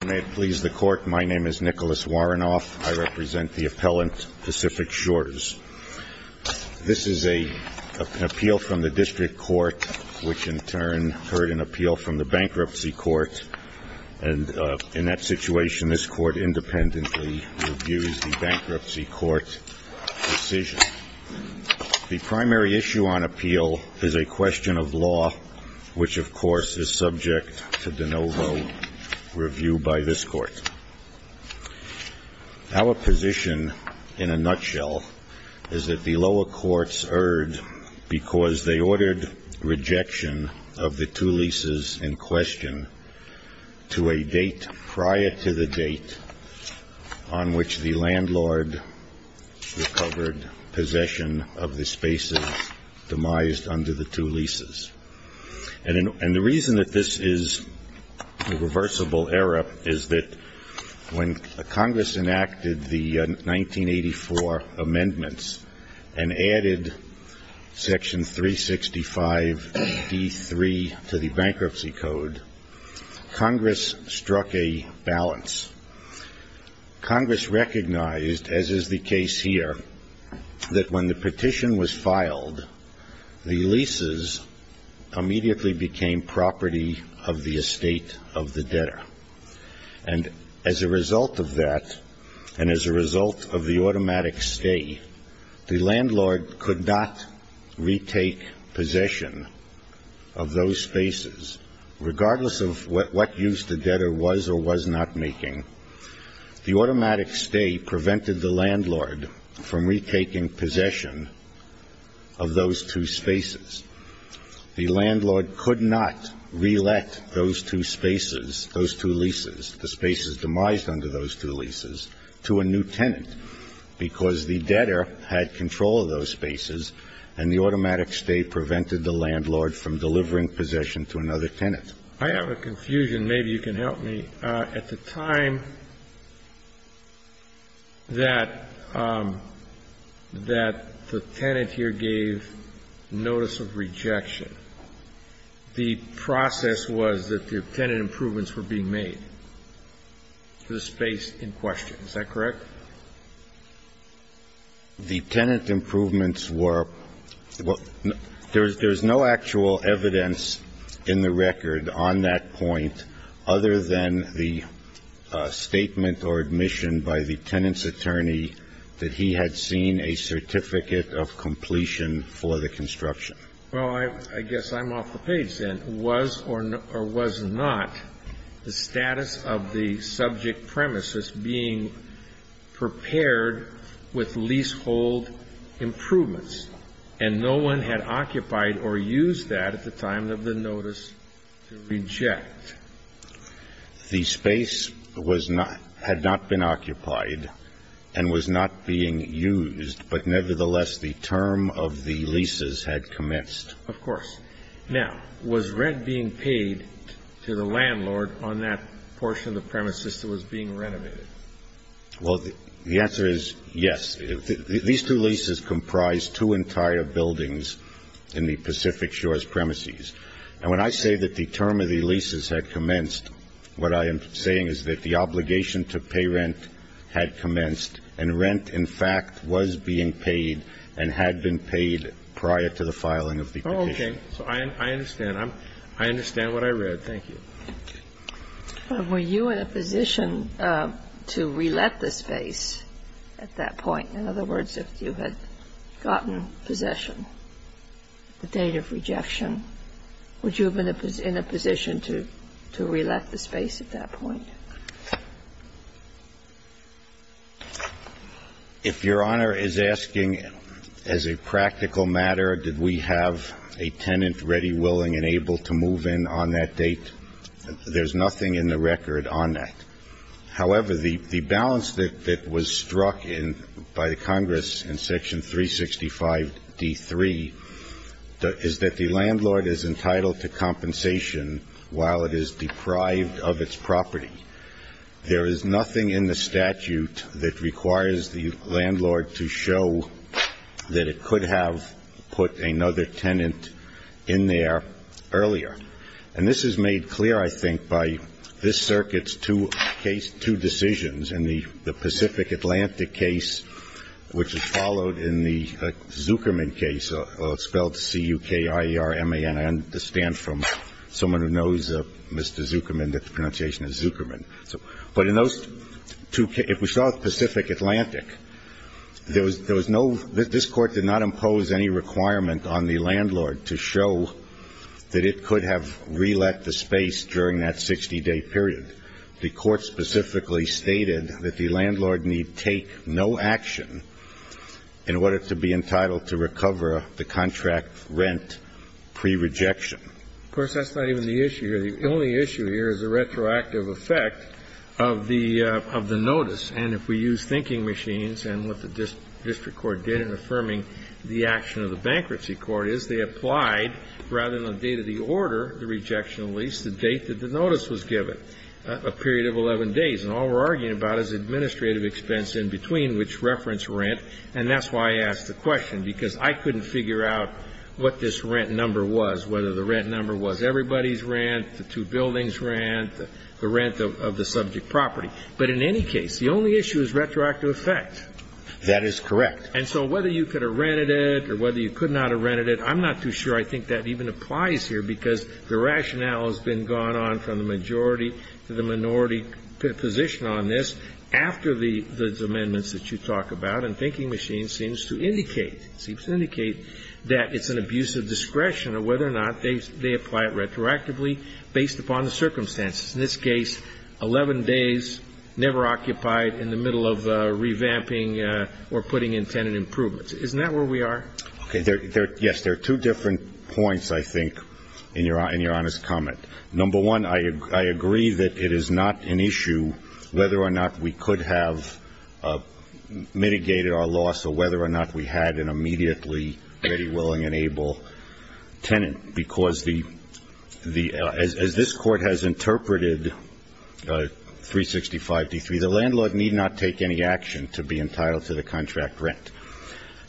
May it please the Court, my name is Nicholas Warrenoff. I represent the appellant, Pacific Shores. This is an appeal from the District Court, which in turn heard an appeal from the Bankruptcy Court. And in that situation, this Court independently reviews the Bankruptcy Court decision. The primary issue on appeal is a question of law, which of course is subject to de novo review by this Court. Our position, in a nutshell, is that the lower courts erred because they ordered rejection of the two leases in question to a date prior to the date on which the landlord recovered possession of the spaces demised under the two leases. And the reason that this is a reversible error is that when Congress enacted the 1984 amendments and added Section 365d3 to the Bankruptcy Code, Congress struck a balance. Congress recognized, as is the case here, that when the petition was filed, the leases immediately became property of the estate of the debtor. And as a result of that, and as a result of the automatic stay, the landlord could not retake possession of those spaces, regardless of what use the debtor was or was not making. The automatic stay prevented the landlord from retaking possession of those two spaces. The landlord could not reelect those two spaces, those two leases, the spaces demised under those two leases, to a new tenant, because the debtor had control of those spaces and the automatic stay prevented the landlord from delivering possession to another tenant. I have a confusion. Maybe you can help me. At the time that the tenant here gave notice of rejection, the process was that the tenant improvements were being made to the space in question. Is that correct? The tenant improvements were – there's no actual evidence in the record on that point other than the statement or admission by the tenant's attorney that he had seen a certificate of completion for the construction. Well, I guess I'm off the page then. Was or was not the status of the subject premises being prepared with leasehold improvements, and no one had occupied or used that at the time of the notice to reject? The space was not – had not been occupied and was not being used, but nevertheless, the term of the leases had commenced. Of course. Now, was rent being paid to the landlord on that portion of the premises that was being renovated? Well, the answer is yes. These two leases comprise two entire buildings in the Pacific Shores premises. And when I say that the term of the leases had commenced, what I am saying is that the obligation to pay rent had commenced and rent, in fact, was being paid and had been paid prior to the filing of the petition. Oh, okay. So I understand. I understand what I read. Thank you. Were you in a position to re-let the space at that point? In other words, if you had gotten possession, the date of rejection, would you have been in a position to re-let the space at that point? If Your Honor is asking as a practical matter, did we have a tenant ready, willing, and able to move in on that date, there's nothing in the record on that. However, the balance that was struck by the Congress in Section 365-D3 is that the landlord is entitled to compensation while it is deprived of its property. There is nothing in the statute that requires the landlord to show that it could have put another tenant in there earlier. And this is made clear, I think, by this Circuit's two decisions in the Pacific Atlantic case, which is followed in the Zuckerman case, spelled C-U-K-I-E-R-M-A-N. I understand from someone who knows Mr. Zuckerman that the pronunciation is Zuckerman. But in those two cases, if we saw Pacific Atlantic, there was no – this Court did not impose any requirement on the landlord to show that it could have re-let the space during that 60-day period. The Court specifically stated that the landlord need take no action in order to be entitled to recover the contract rent pre-rejection. Of course, that's not even the issue here. The only issue here is the retroactive effect of the notice. And if we use thinking machines and what the district court did in affirming the action of the bankruptcy court is they applied, rather than the date of the order, the rejection of lease, the date that the notice was given, a period of 11 days. And all we're arguing about is administrative expense in between, which reference rent. And that's why I asked the question, because I couldn't figure out what this rent number was, whether the rent number was everybody's rent, the two buildings' rent, the rent of the subject property. But in any case, the only issue is retroactive effect. That is correct. And so whether you could have rented it or whether you could not have rented it, I'm not too sure I think that even applies here, because the rationale has been gone on from the majority to the minority position on this after the amendments that you talk about, and thinking machines seems to indicate, seems to indicate that it's an abuse of discretion or whether or not they apply it retroactively based upon the circumstances. In this case, 11 days never occupied in the middle of revamping or putting in tenant improvements. Isn't that where we are? Okay. Yes. There are two different points, I think, in your honest comment. Number one, I agree that it is not an issue whether or not we could have mitigated our loss or whether or not we had an immediately ready, willing, and able tenant, because as this Court has interpreted 365-D3, the landlord need not take any action to be entitled to the contract rent.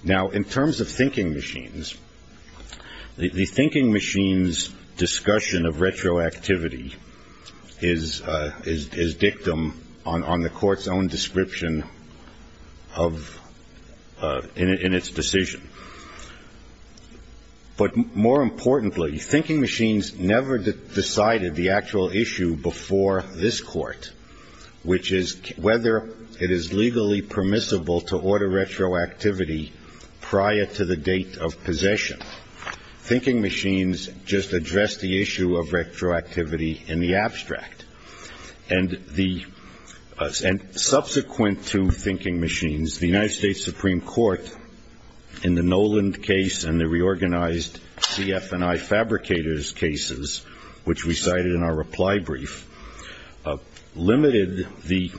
Now, in terms of thinking machines, the thinking machine's discussion of retroactivity is dictum on the Court's own description in its decision. But more importantly, thinking machines never decided the actual issue before this Court, which is whether it is legally permissible to order retroactivity prior to the date of possession. Thinking machines just address the issue of retroactivity in the abstract, and the subsequent two thinking machines, the United States Supreme Court in the Noland case and the reorganized CF&I fabricators cases, which we cited in our reply brief, limited the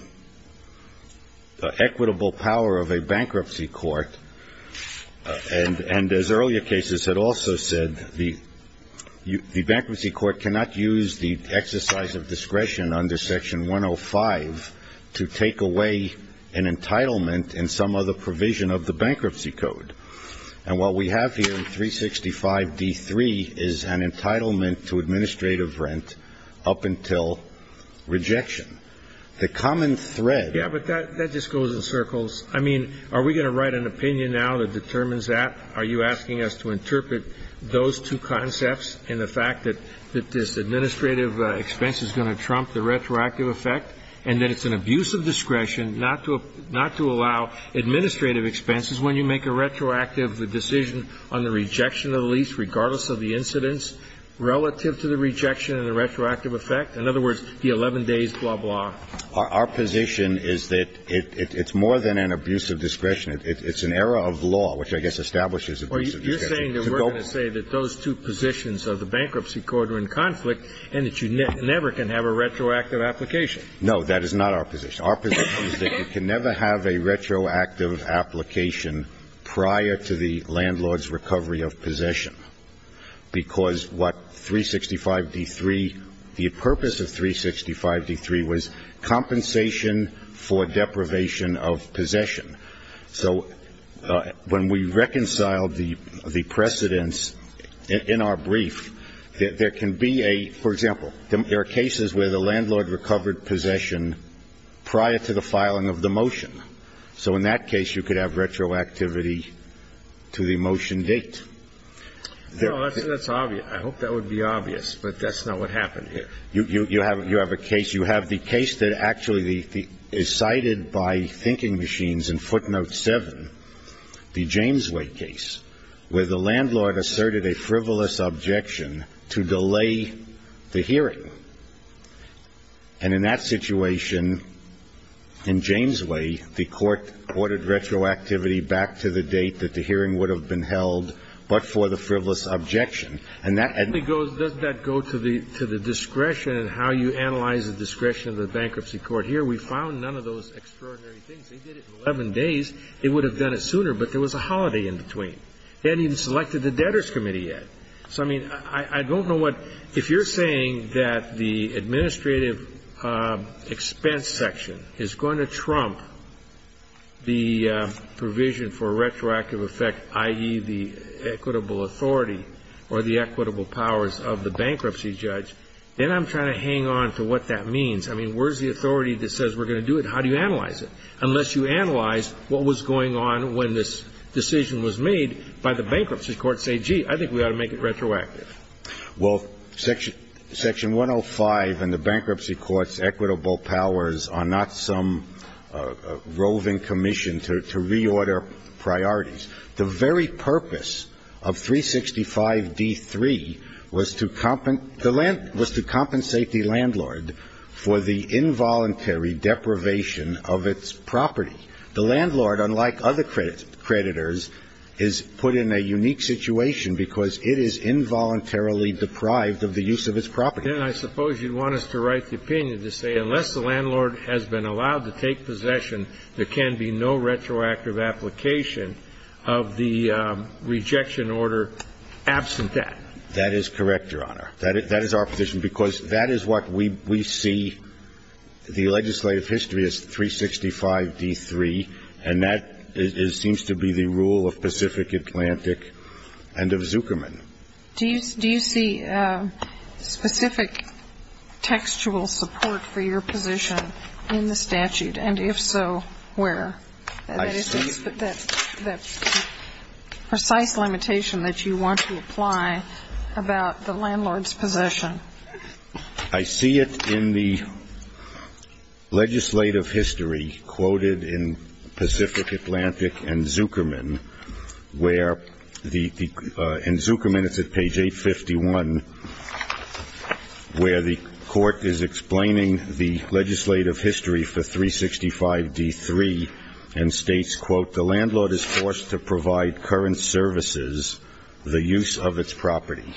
equitable power of a bankruptcy court, and as earlier cases had also said, the bankruptcy court cannot use the 365-D3 to take away an entitlement in some other provision of the bankruptcy code. And what we have here in 365-D3 is an entitlement to administrative rent up until rejection. The common thread. Yeah, but that just goes in circles. I mean, are we going to write an opinion now that determines that? Are you asking us to interpret those two concepts and the fact that this administrative expense is going to trump the retroactive effect and that it's an abuse of discretion not to allow administrative expenses when you make a retroactive decision on the rejection of the lease regardless of the incidence relative to the rejection and the retroactive effect? In other words, the 11 days, blah, blah. Our position is that it's more than an abuse of discretion. It's an error of law, which I guess establishes abuse of discretion. You're saying that we're going to say that those two positions of the bankruptcy court are in conflict and that you never can have a retroactive application? No, that is not our position. Our position is that you can never have a retroactive application prior to the landlord's recovery of possession, because what 365-D3, the purpose of 365-D3 was compensation for deprivation of possession. So when we reconciled the precedents in our brief, there can be a, for example, there are cases where the landlord recovered possession prior to the filing of the motion. So in that case, you could have retroactivity to the motion date. No, that's obvious. I hope that would be obvious, but that's not what happened here. You have a case. You have the case that actually is cited by thinking machines in footnote 7, the Jamesway case, where the landlord asserted a frivolous objection to delay the hearing. And in that situation, in Jamesway, the court ordered retroactivity back to the date that the hearing would have been held, but for the frivolous objection. And that goes, doesn't that go to the discretion and how you analyze the discretion of the bankruptcy court? Here we found none of those extraordinary things. They did it in 11 days. They would have done it sooner, but there was a holiday in between. They hadn't even selected the debtors committee yet. So, I mean, I don't know what, if you're saying that the administrative expense section is going to trump the provision for retroactive effect, i.e., the equitable authority or the equitable powers of the bankruptcy judge, then I'm trying to hang on to what that means. I mean, where's the authority that says we're going to do it? How do you analyze it? Unless you analyze what was going on when this decision was made by the bankruptcy court, say, gee, I think we ought to make it retroactive. Well, Section 105 and the bankruptcy court's equitable powers are not some roving commission to reorder priorities. The very purpose of 365d3 was to compensate the landlord for the involuntary deprivation of its property. The landlord, unlike other creditors, is put in a unique situation because it is involuntarily deprived of the use of its property. Then I suppose you'd want us to write the opinion to say unless the landlord has been involved in a particular situation, there is no retroactive application of the rejection order absent that. That is correct, Your Honor. That is our position, because that is what we see. The legislative history is 365d3, and that seems to be the rule of Pacific Atlantic and of Zuckerman. Do you see specific textual support for your position in the statute? And if so, where? I see it. That precise limitation that you want to apply about the landlord's possession. I see it in the legislative history quoted in Pacific Atlantic and Zuckerman, where in Zuckerman, it's at page 851, where the court is explaining the legislative history for 365d3 and states, quote, the landlord is forced to provide current services the use of its property.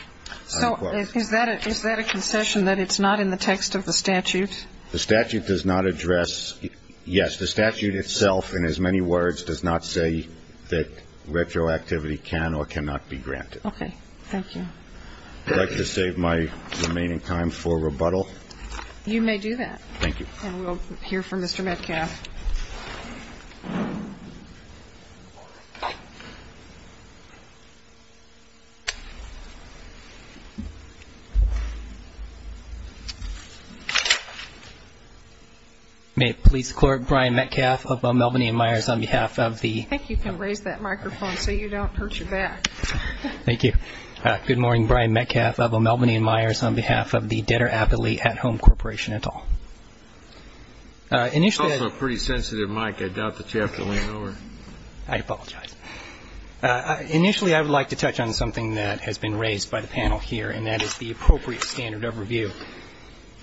So is that a concession that it's not in the text of the statute? The statute does not address yes. The statute itself, in as many words, does not say that retroactivity can or cannot be granted. Okay. Thank you. I'd like to save my remaining time for rebuttal. You may do that. Thank you. And we'll hear from Mr. Metcalf. I think you can raise that microphone so you don't hurt your back. Thank you. Good morning. Brian Metcalf of Melbourne & Myers on behalf of the Debtor Aptly At Home Corporation et al. It's also a pretty sensitive mic. I doubt that you have to lean over. I apologize. Initially, I would like to touch on something that has been raised by the panel here, and that is the appropriate standard of review.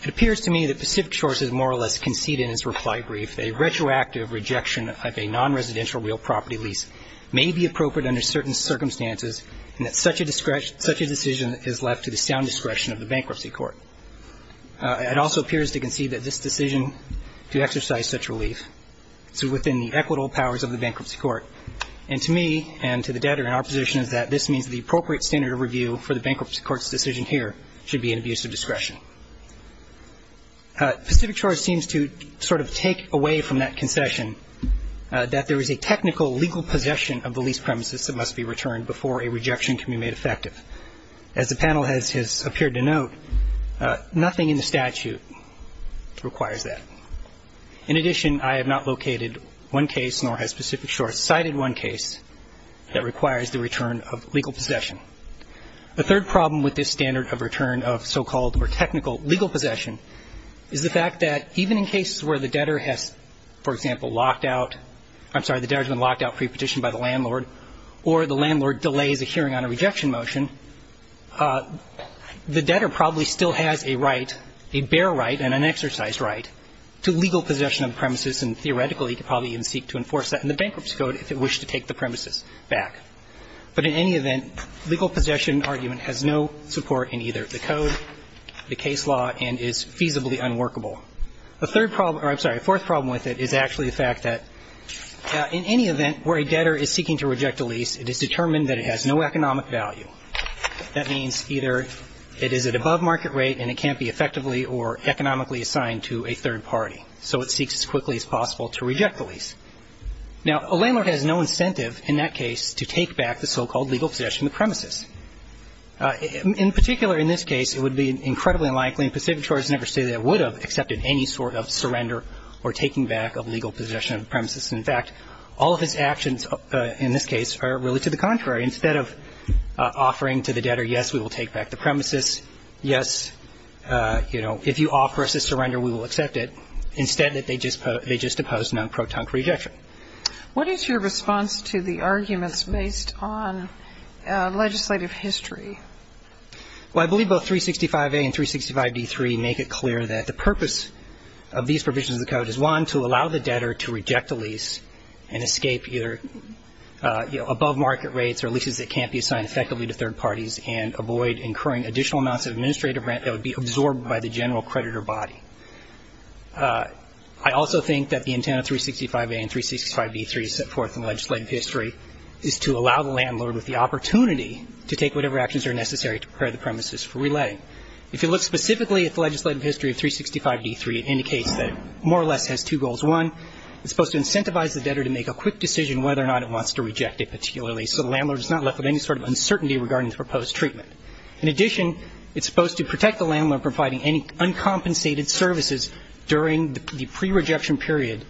It appears to me that Pacific Shores has more or less conceded in its reply brief that a retroactive rejection of a nonresidential real property lease may be appropriate under certain circumstances and that such a decision is left to the sound discretion of the bankruptcy court. It also appears to concede that this decision to exercise such relief is within the equitable powers of the bankruptcy court. And to me and to the debtor in our position is that this means the appropriate standard of review for the bankruptcy court's decision here should be an abuse of discretion. Pacific Shores seems to sort of take away from that concession that there is a technical legal possession of the lease premises that must be returned before a rejection can be made effective. As the panel has appeared to note, nothing in the statute requires that. In addition, I have not located one case, nor has Pacific Shores cited one case, that requires the return of legal possession. The third problem with this standard of return of so-called or technical legal possession is the fact that even in cases where the debtor has, for example, locked out, I'm sorry, the debtor has been locked out pre-petitioned by the landlord or the landlord delays a hearing on a rejection motion, the debtor probably still has a right, a bare right and an exercised right to legal possession of the premises and theoretically could probably even seek to enforce that in the bankruptcy code if it wished to take the premises back. But in any event, legal possession argument has no support in either the code, the case law, and is feasibly unworkable. The third problem, or I'm sorry, the fourth problem with it is actually the fact that in any event where a debtor is seeking to reject a lease, it is determined that it has no economic value. That means either it is at above market rate and it can't be effectively or economically assigned to a third party, so it seeks as quickly as possible to reject the lease. Now, a landlord has no incentive in that case to take back the so-called legal possession of the premises. In particular, in this case, it would be incredibly unlikely, and Pacific Shores never stated that it would have accepted any sort of surrender or taking back a legal possession of the premises. In fact, all of its actions in this case are really to the contrary. Instead of offering to the debtor, yes, we will take back the premises, yes, you know, if you offer us a surrender, we will accept it, instead they just oppose non-protunct rejection. What is your response to the arguments based on legislative history? Well, I believe both 365A and 365D3 make it clear that the purpose of these provisions of the code is one, to allow the debtor to reject a lease and escape either, you know, above market rates or leases that can't be assigned effectively to third parties and avoid incurring additional amounts of administrative rent that would be absorbed by the general creditor body. I also think that the intent of 365A and 365D3 set forth in legislative history is to allow the landlord with the opportunity to take whatever actions are necessary to prepare the premises for relaying. If you look specifically at the legislative history of 365D3, it indicates that it more or less has two goals. One, it's supposed to incentivize the debtor to make a quick decision whether or not it wants to reject a particular lease so the landlord is not left with any sort of uncertainty regarding the proposed treatment. In addition, it's supposed to protect the landlord from providing any uncompensated services during the prerejection period,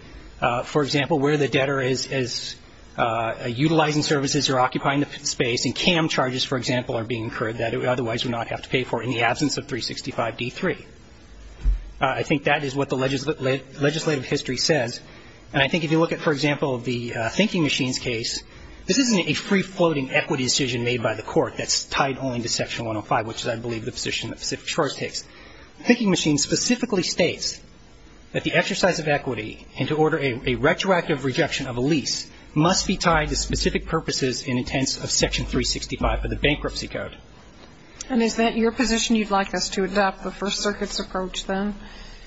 for example, where the debtor is utilizing services or occupying the space, and CAM charges, for example, are being incurred that it otherwise would not have to pay for in the absence of 365D3. I think that is what the legislative history says. And I think if you look at, for example, the thinking machines case, this isn't a free-floating equity decision made by the court that's tied only to Section 105, which is, I believe, the position that Pacific Shores takes. The thinking machine specifically states that the exercise of equity and to order a retroactive rejection of a lease must be tied to specific purposes and intents of Section 365 of the Bankruptcy Code. And is that your position you'd like us to adopt, the First Circuit's approach, then?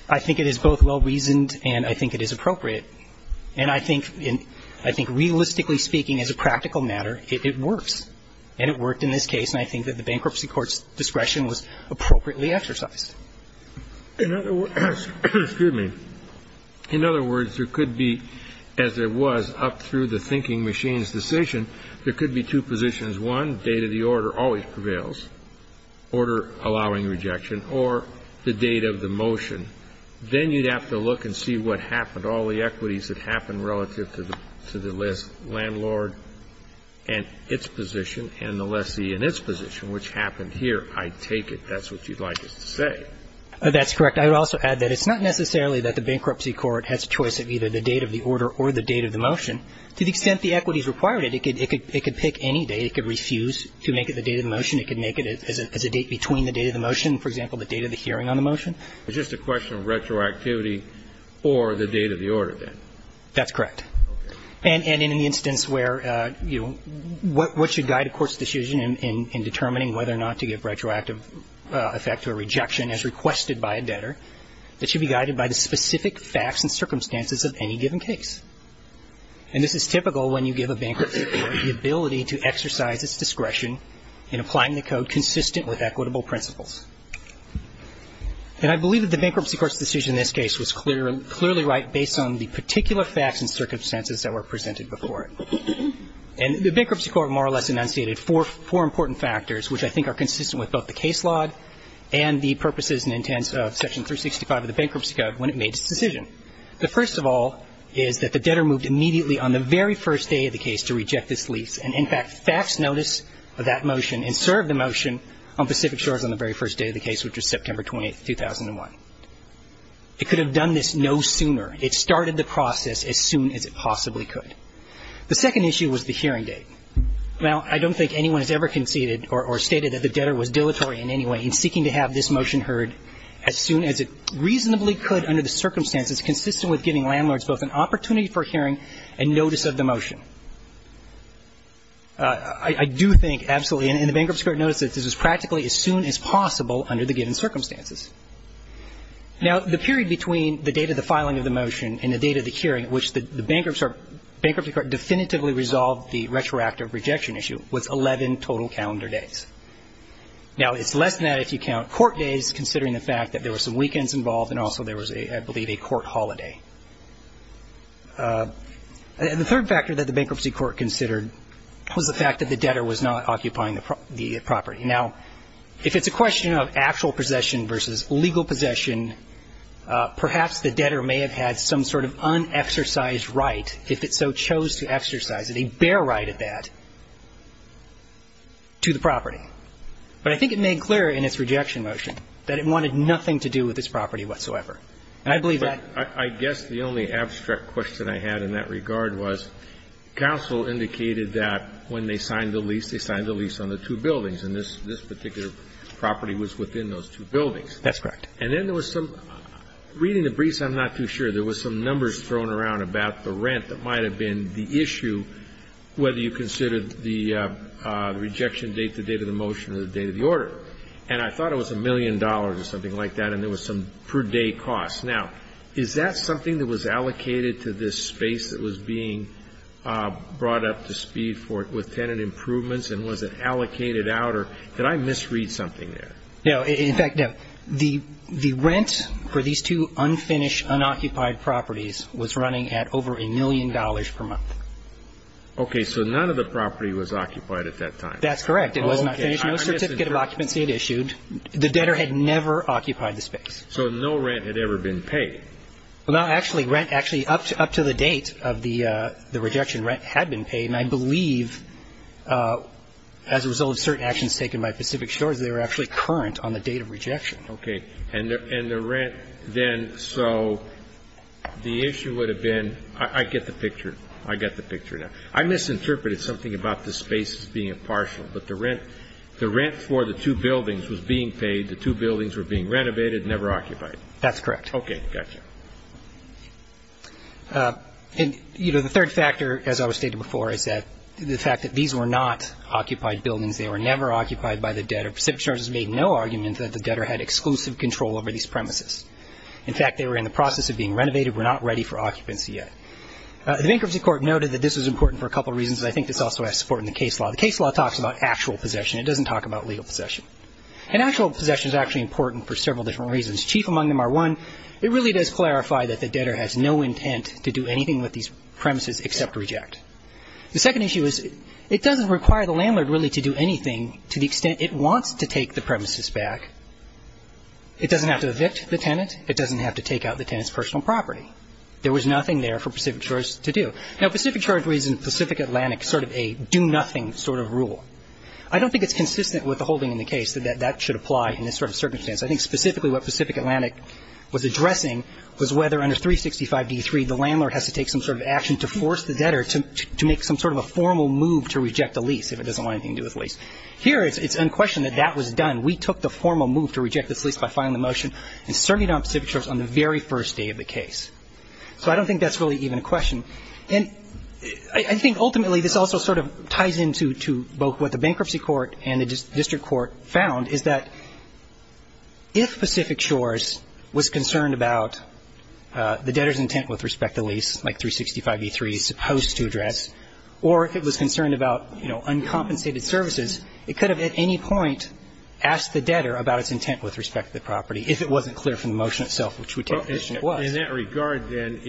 I think it is both well-reasoned and I think it is appropriate. And I think realistically speaking, as a practical matter, it works. And it worked in this case, and I think that the Bankruptcy Court's discretion was In other words, there could be, as it was up through the thinking machine's decision, there could be two positions, one, date of the order always prevails, order allowing rejection, or the date of the motion. Then you'd have to look and see what happened, all the equities that happened relative to the landlord and its position and the lessee and its position, which happened here. I take it that's what you'd like us to say. That's correct. I would also add that it's not necessarily that the Bankruptcy Court has a choice of either the date of the order or the date of the motion. To the extent the equities required it, it could pick any date. It could refuse to make it the date of the motion. It could make it as a date between the date of the motion, for example, the date of the hearing on the motion. It's just a question of retroactivity or the date of the order, then? That's correct. Okay. And in the instance where, you know, what should guide a court's decision in determining whether or not to give retroactive effect to a rejection as requested by a debtor, it should be guided by the specific facts and circumstances of any given case. And this is typical when you give a Bankruptcy Court the ability to exercise its discretion in applying the code consistent with equitable principles. And I believe that the Bankruptcy Court's decision in this case was clearly right based on the particular facts and circumstances that were presented before it. And the Bankruptcy Court more or less enunciated four important factors which I think are consistent with both the case law and the purposes and intents of Section 365 of the Bankruptcy Code when it made its decision. The first of all is that the debtor moved immediately on the very first day of the case to reject this lease and, in fact, faxed notice of that motion and served the motion on Pacific Shores on the very first day of the case, which was September 20, 2001. It could have done this no sooner. It started the process as soon as it possibly could. The second issue was the hearing date. Now, I don't think anyone has ever conceded or stated that the debtor was dilatory in any way in seeking to have this motion heard as soon as it reasonably could under the circumstances consistent with giving landlords both an opportunity for hearing and notice of the motion. I do think absolutely, and the Bankruptcy Court noticed that this was practically as soon as possible under the given circumstances. Now, the period between the date of the filing of the motion and the date of the hearing at which the Bankruptcy Court definitively resolved the retroactive rejection issue was 11 total calendar days. Now, it's less than that if you count court days, considering the fact that there were some weekends involved and also there was, I believe, a court holiday. The third factor that the Bankruptcy Court considered was the fact that the debtor was not occupying the property. Now, if it's a question of actual possession versus legal possession, perhaps the exercise right, if it so chose to exercise it, a bear right at that, to the property. But I think it made clear in its rejection motion that it wanted nothing to do with its property whatsoever. And I believe that. Kennedy. I guess the only abstract question I had in that regard was counsel indicated that when they signed the lease, they signed the lease on the two buildings and this particular property was within those two buildings. That's correct. And then there was some, reading the briefs, I'm not too sure. There was some numbers thrown around about the rent that might have been the issue, whether you considered the rejection date, the date of the motion, or the date of the order. And I thought it was a million dollars or something like that, and there was some per day cost. Now, is that something that was allocated to this space that was being brought up to speed with tenant improvements, and was it allocated out, or did I misread something there? No. In fact, no. The rent for these two unfinished, unoccupied properties was running at over a million dollars per month. Okay. So none of the property was occupied at that time. That's correct. It was not finished. No certificate of occupancy had issued. The debtor had never occupied the space. So no rent had ever been paid. Well, no. Actually, up to the date of the rejection, rent had been paid. And I believe as a result of certain actions taken by Pacific Shores, they were actually current on the date of rejection. Okay. And the rent then, so the issue would have been, I get the picture. I get the picture now. I misinterpreted something about this space being a partial, but the rent for the two buildings was being paid, the two buildings were being renovated, never occupied. That's correct. Okay. Gotcha. And, you know, the third factor, as I was stating before, is that the fact that these were not occupied buildings. They were never occupied by the debtor. Pacific Shores has made no argument that the debtor had exclusive control over these premises. In fact, they were in the process of being renovated, were not ready for occupancy yet. The bankruptcy court noted that this was important for a couple of reasons, and I think this also has support in the case law. The case law talks about actual possession. It doesn't talk about legal possession. And actual possession is actually important for several different reasons. Chief among them are, one, it really does clarify that the debtor has no intent to do anything with these premises except reject. The second issue is it doesn't require the landlord really to do anything to the extent it wants to take the premises back. It doesn't have to evict the tenant. It doesn't have to take out the tenant's personal property. There was nothing there for Pacific Shores to do. Now, Pacific Shores reasons Pacific Atlantic sort of a do-nothing sort of rule. I don't think it's consistent with the holding in the case that that should apply in this sort of circumstance. I think specifically what Pacific Atlantic was addressing was whether under 365-D3 the landlord has to take some sort of action to force the debtor to make some sort of a formal move to reject a lease if it doesn't want anything to do with a lease. Here it's unquestioned that that was done. We took the formal move to reject this lease by filing the motion and serving it on Pacific Shores on the very first day of the case. So I don't think that's really even a question. And I think ultimately this also sort of ties into both what the bankruptcy court and the district court found is that if Pacific Shores was concerned about the debtor's intent with respect to the lease, like 365-D3 is supposed to address, or if it was concerned about, you know, uncompensated services, it could have at any point asked the debtor about its intent with respect to the property if it wasn't clear from the motion itself which we take it was. In that regard, then,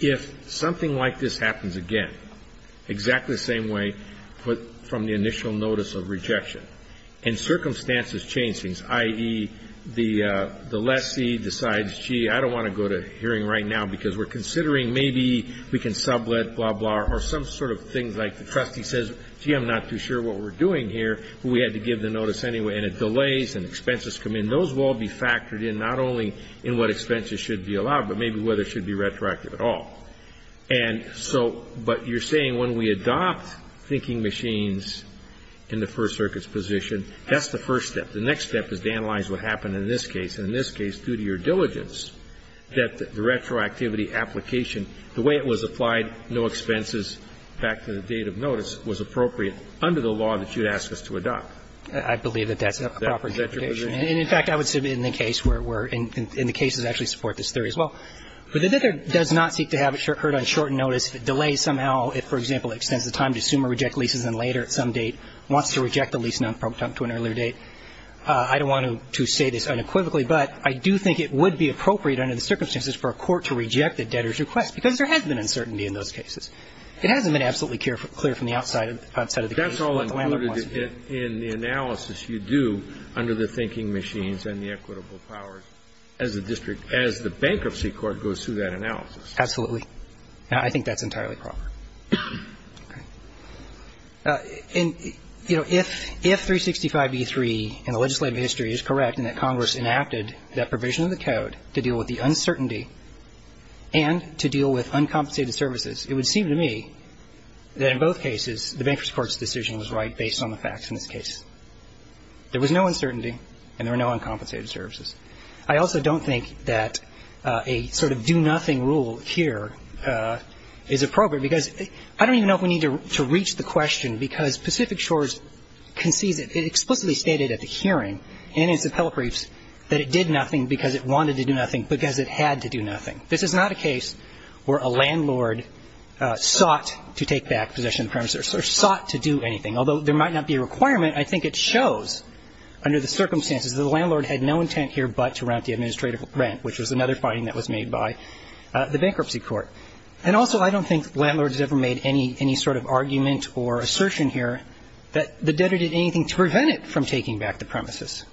if something like this happens again, exactly the same way from the initial notice of rejection, and circumstances change things, i.e., the lessee decides, gee, I don't want to go to hearing right now because we're considering maybe we can sublet, blah, blah, or some sort of things like the trustee says, gee, I'm not too sure what we're doing here, but we had to give the notice anyway, and it delays and expenses come in. Those will all be factored in, not only in what expenses should be allowed, but maybe whether it should be retroactive at all. And so, but you're saying when we adopt thinking machines in the First Circuit's position, that's the first step. The next step is to analyze what happened in this case. And in this case, due to your diligence, that the retroactivity application, the way it was applied, no expenses back to the date of notice, was appropriate under the law that you'd ask us to adopt. I believe that that's a proper interpretation. Is that your position? And, in fact, I would submit in the case where we're in, in the cases that actually support this theory as well. But the debtor does not seek to have it heard on short notice. If it delays somehow, if, for example, it extends the time to assume or reject leases and later at some date, wants to reject the lease to an earlier date, I don't want to say this unequivocally, but I do think it would be appropriate under the circumstances for a court to reject the debtor's request, because there has been uncertainty in those cases. It hasn't been absolutely clear from the outside of the case what the landlord wants. That's all included in the analysis you do under the thinking machines and the equitable powers as the district, as the bankruptcy court goes through that analysis. Absolutely. I think that's entirely proper. And, you know, if 365b3 in the legislative history is correct and that Congress enacted that provision of the code to deal with the uncertainty and to deal with uncompensated services, it would seem to me that in both cases the bankruptcy court's decision was right based on the facts in this case. There was no uncertainty and there were no uncompensated services. I also don't think that a sort of do-nothing rule here is appropriate, because I don't even know if we need to reach the question, because Pacific Shores concedes it. It explicitly stated at the hearing in its appellate briefs that it did nothing because it wanted to do nothing because it had to do nothing. This is not a case where a landlord sought to take back possession of the premises or sought to do anything. Although there might not be a requirement, I think it shows under the circumstances that the landlord had no intent here but to rent the administrative rent, which was another finding that was made by the bankruptcy court. And also, I don't think landlords ever made any sort of argument or assertion here that the debtor did anything to prevent it from taking back the premises.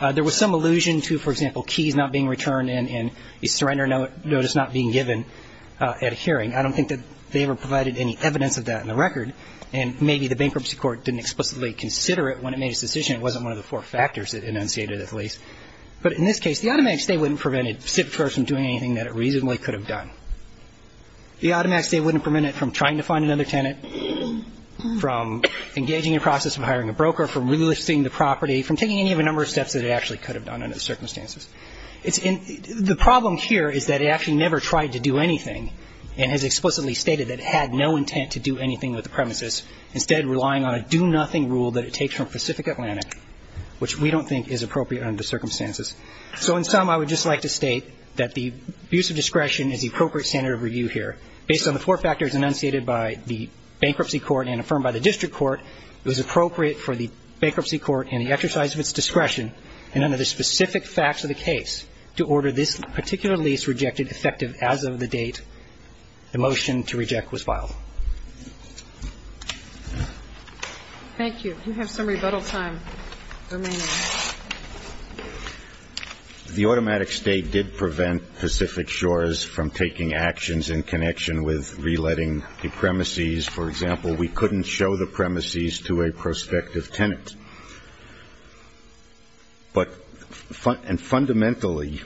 There was some allusion to, for example, keys not being returned and a surrender notice not being given at a hearing. I don't think that they ever provided any evidence of that in the record, and maybe the bankruptcy court didn't explicitly consider it when it made its decision. It wasn't one of the four factors it enunciated, at least. But in this case, the automatic stay wouldn't prevent Pacific Shores from doing anything that it reasonably could have done. The automatic stay wouldn't prevent it from trying to find another tenant, from engaging in a process of hiring a broker, from relisting the property, from taking any of the number of steps that it actually could have done under the circumstances. The problem here is that it actually never tried to do anything and has explicitly stated that it had no intent to do anything with the premises, instead relying on a do-nothing rule that it takes from Pacific Atlantic, which we don't think is appropriate under the circumstances. So in sum, I would just like to state that the abuse of discretion is the appropriate standard of review here. Based on the four factors enunciated by the bankruptcy court and affirmed by the district court, it was appropriate for the bankruptcy court in the exercise of its discretion and under the specific facts of the case to order this particular lease rejected effective as of the date the motion to reject was filed. Thank you. You have some rebuttal time remaining. The automatic stay did prevent Pacific Shores from taking actions in connection with reletting the premises. For example, we couldn't show the premises to a prospective tenant. But fundamentally,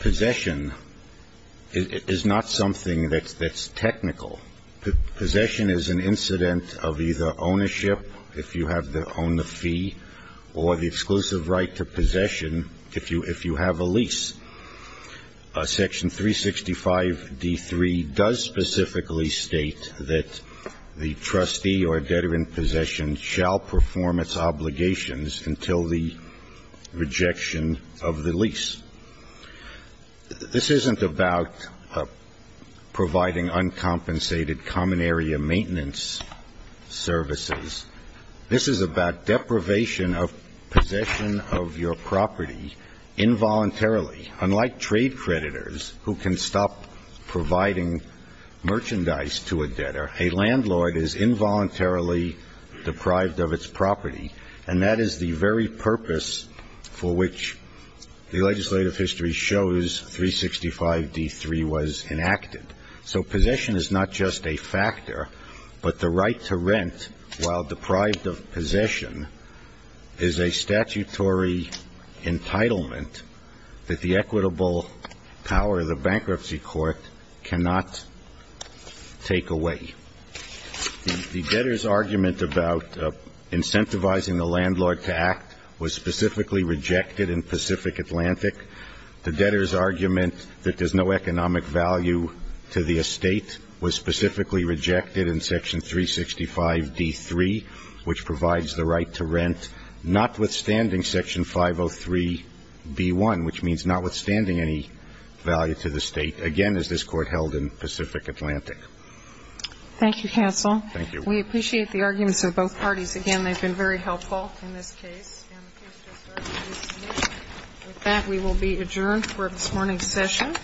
possession is not something that's technical. Possession is an incident of either ownership, if you have the owner fee, or the exclusive right to possession if you have a lease. Section 365d3 does specifically state that the trustee or debtor in possession shall perform its obligations until the rejection of the lease. This isn't about providing uncompensated common area maintenance services. This is about deprivation of possession of your property involuntarily, unlike trade creditors who can stop providing merchandise to a debtor. A landlord is involuntarily deprived of its property, and that is the very purpose for which the legislative history shows 365d3 was enacted. So possession is not just a factor, but the right to rent while deprived of possession is a statutory entitlement that the equitable power of the bankruptcy court cannot take away. The debtor's argument about incentivizing the landlord to act was specifically rejected in Pacific Atlantic. The debtor's argument that there's no economic value to the estate was specifically rejected in Section 365d3, which provides the right to rent, notwithstanding Section 503b1, which means notwithstanding any value to the state, again, as this Thank you, counsel. Thank you. We appreciate the arguments of both parties. Again, they've been very helpful in this case. With that, we will be adjourned for this morning's session.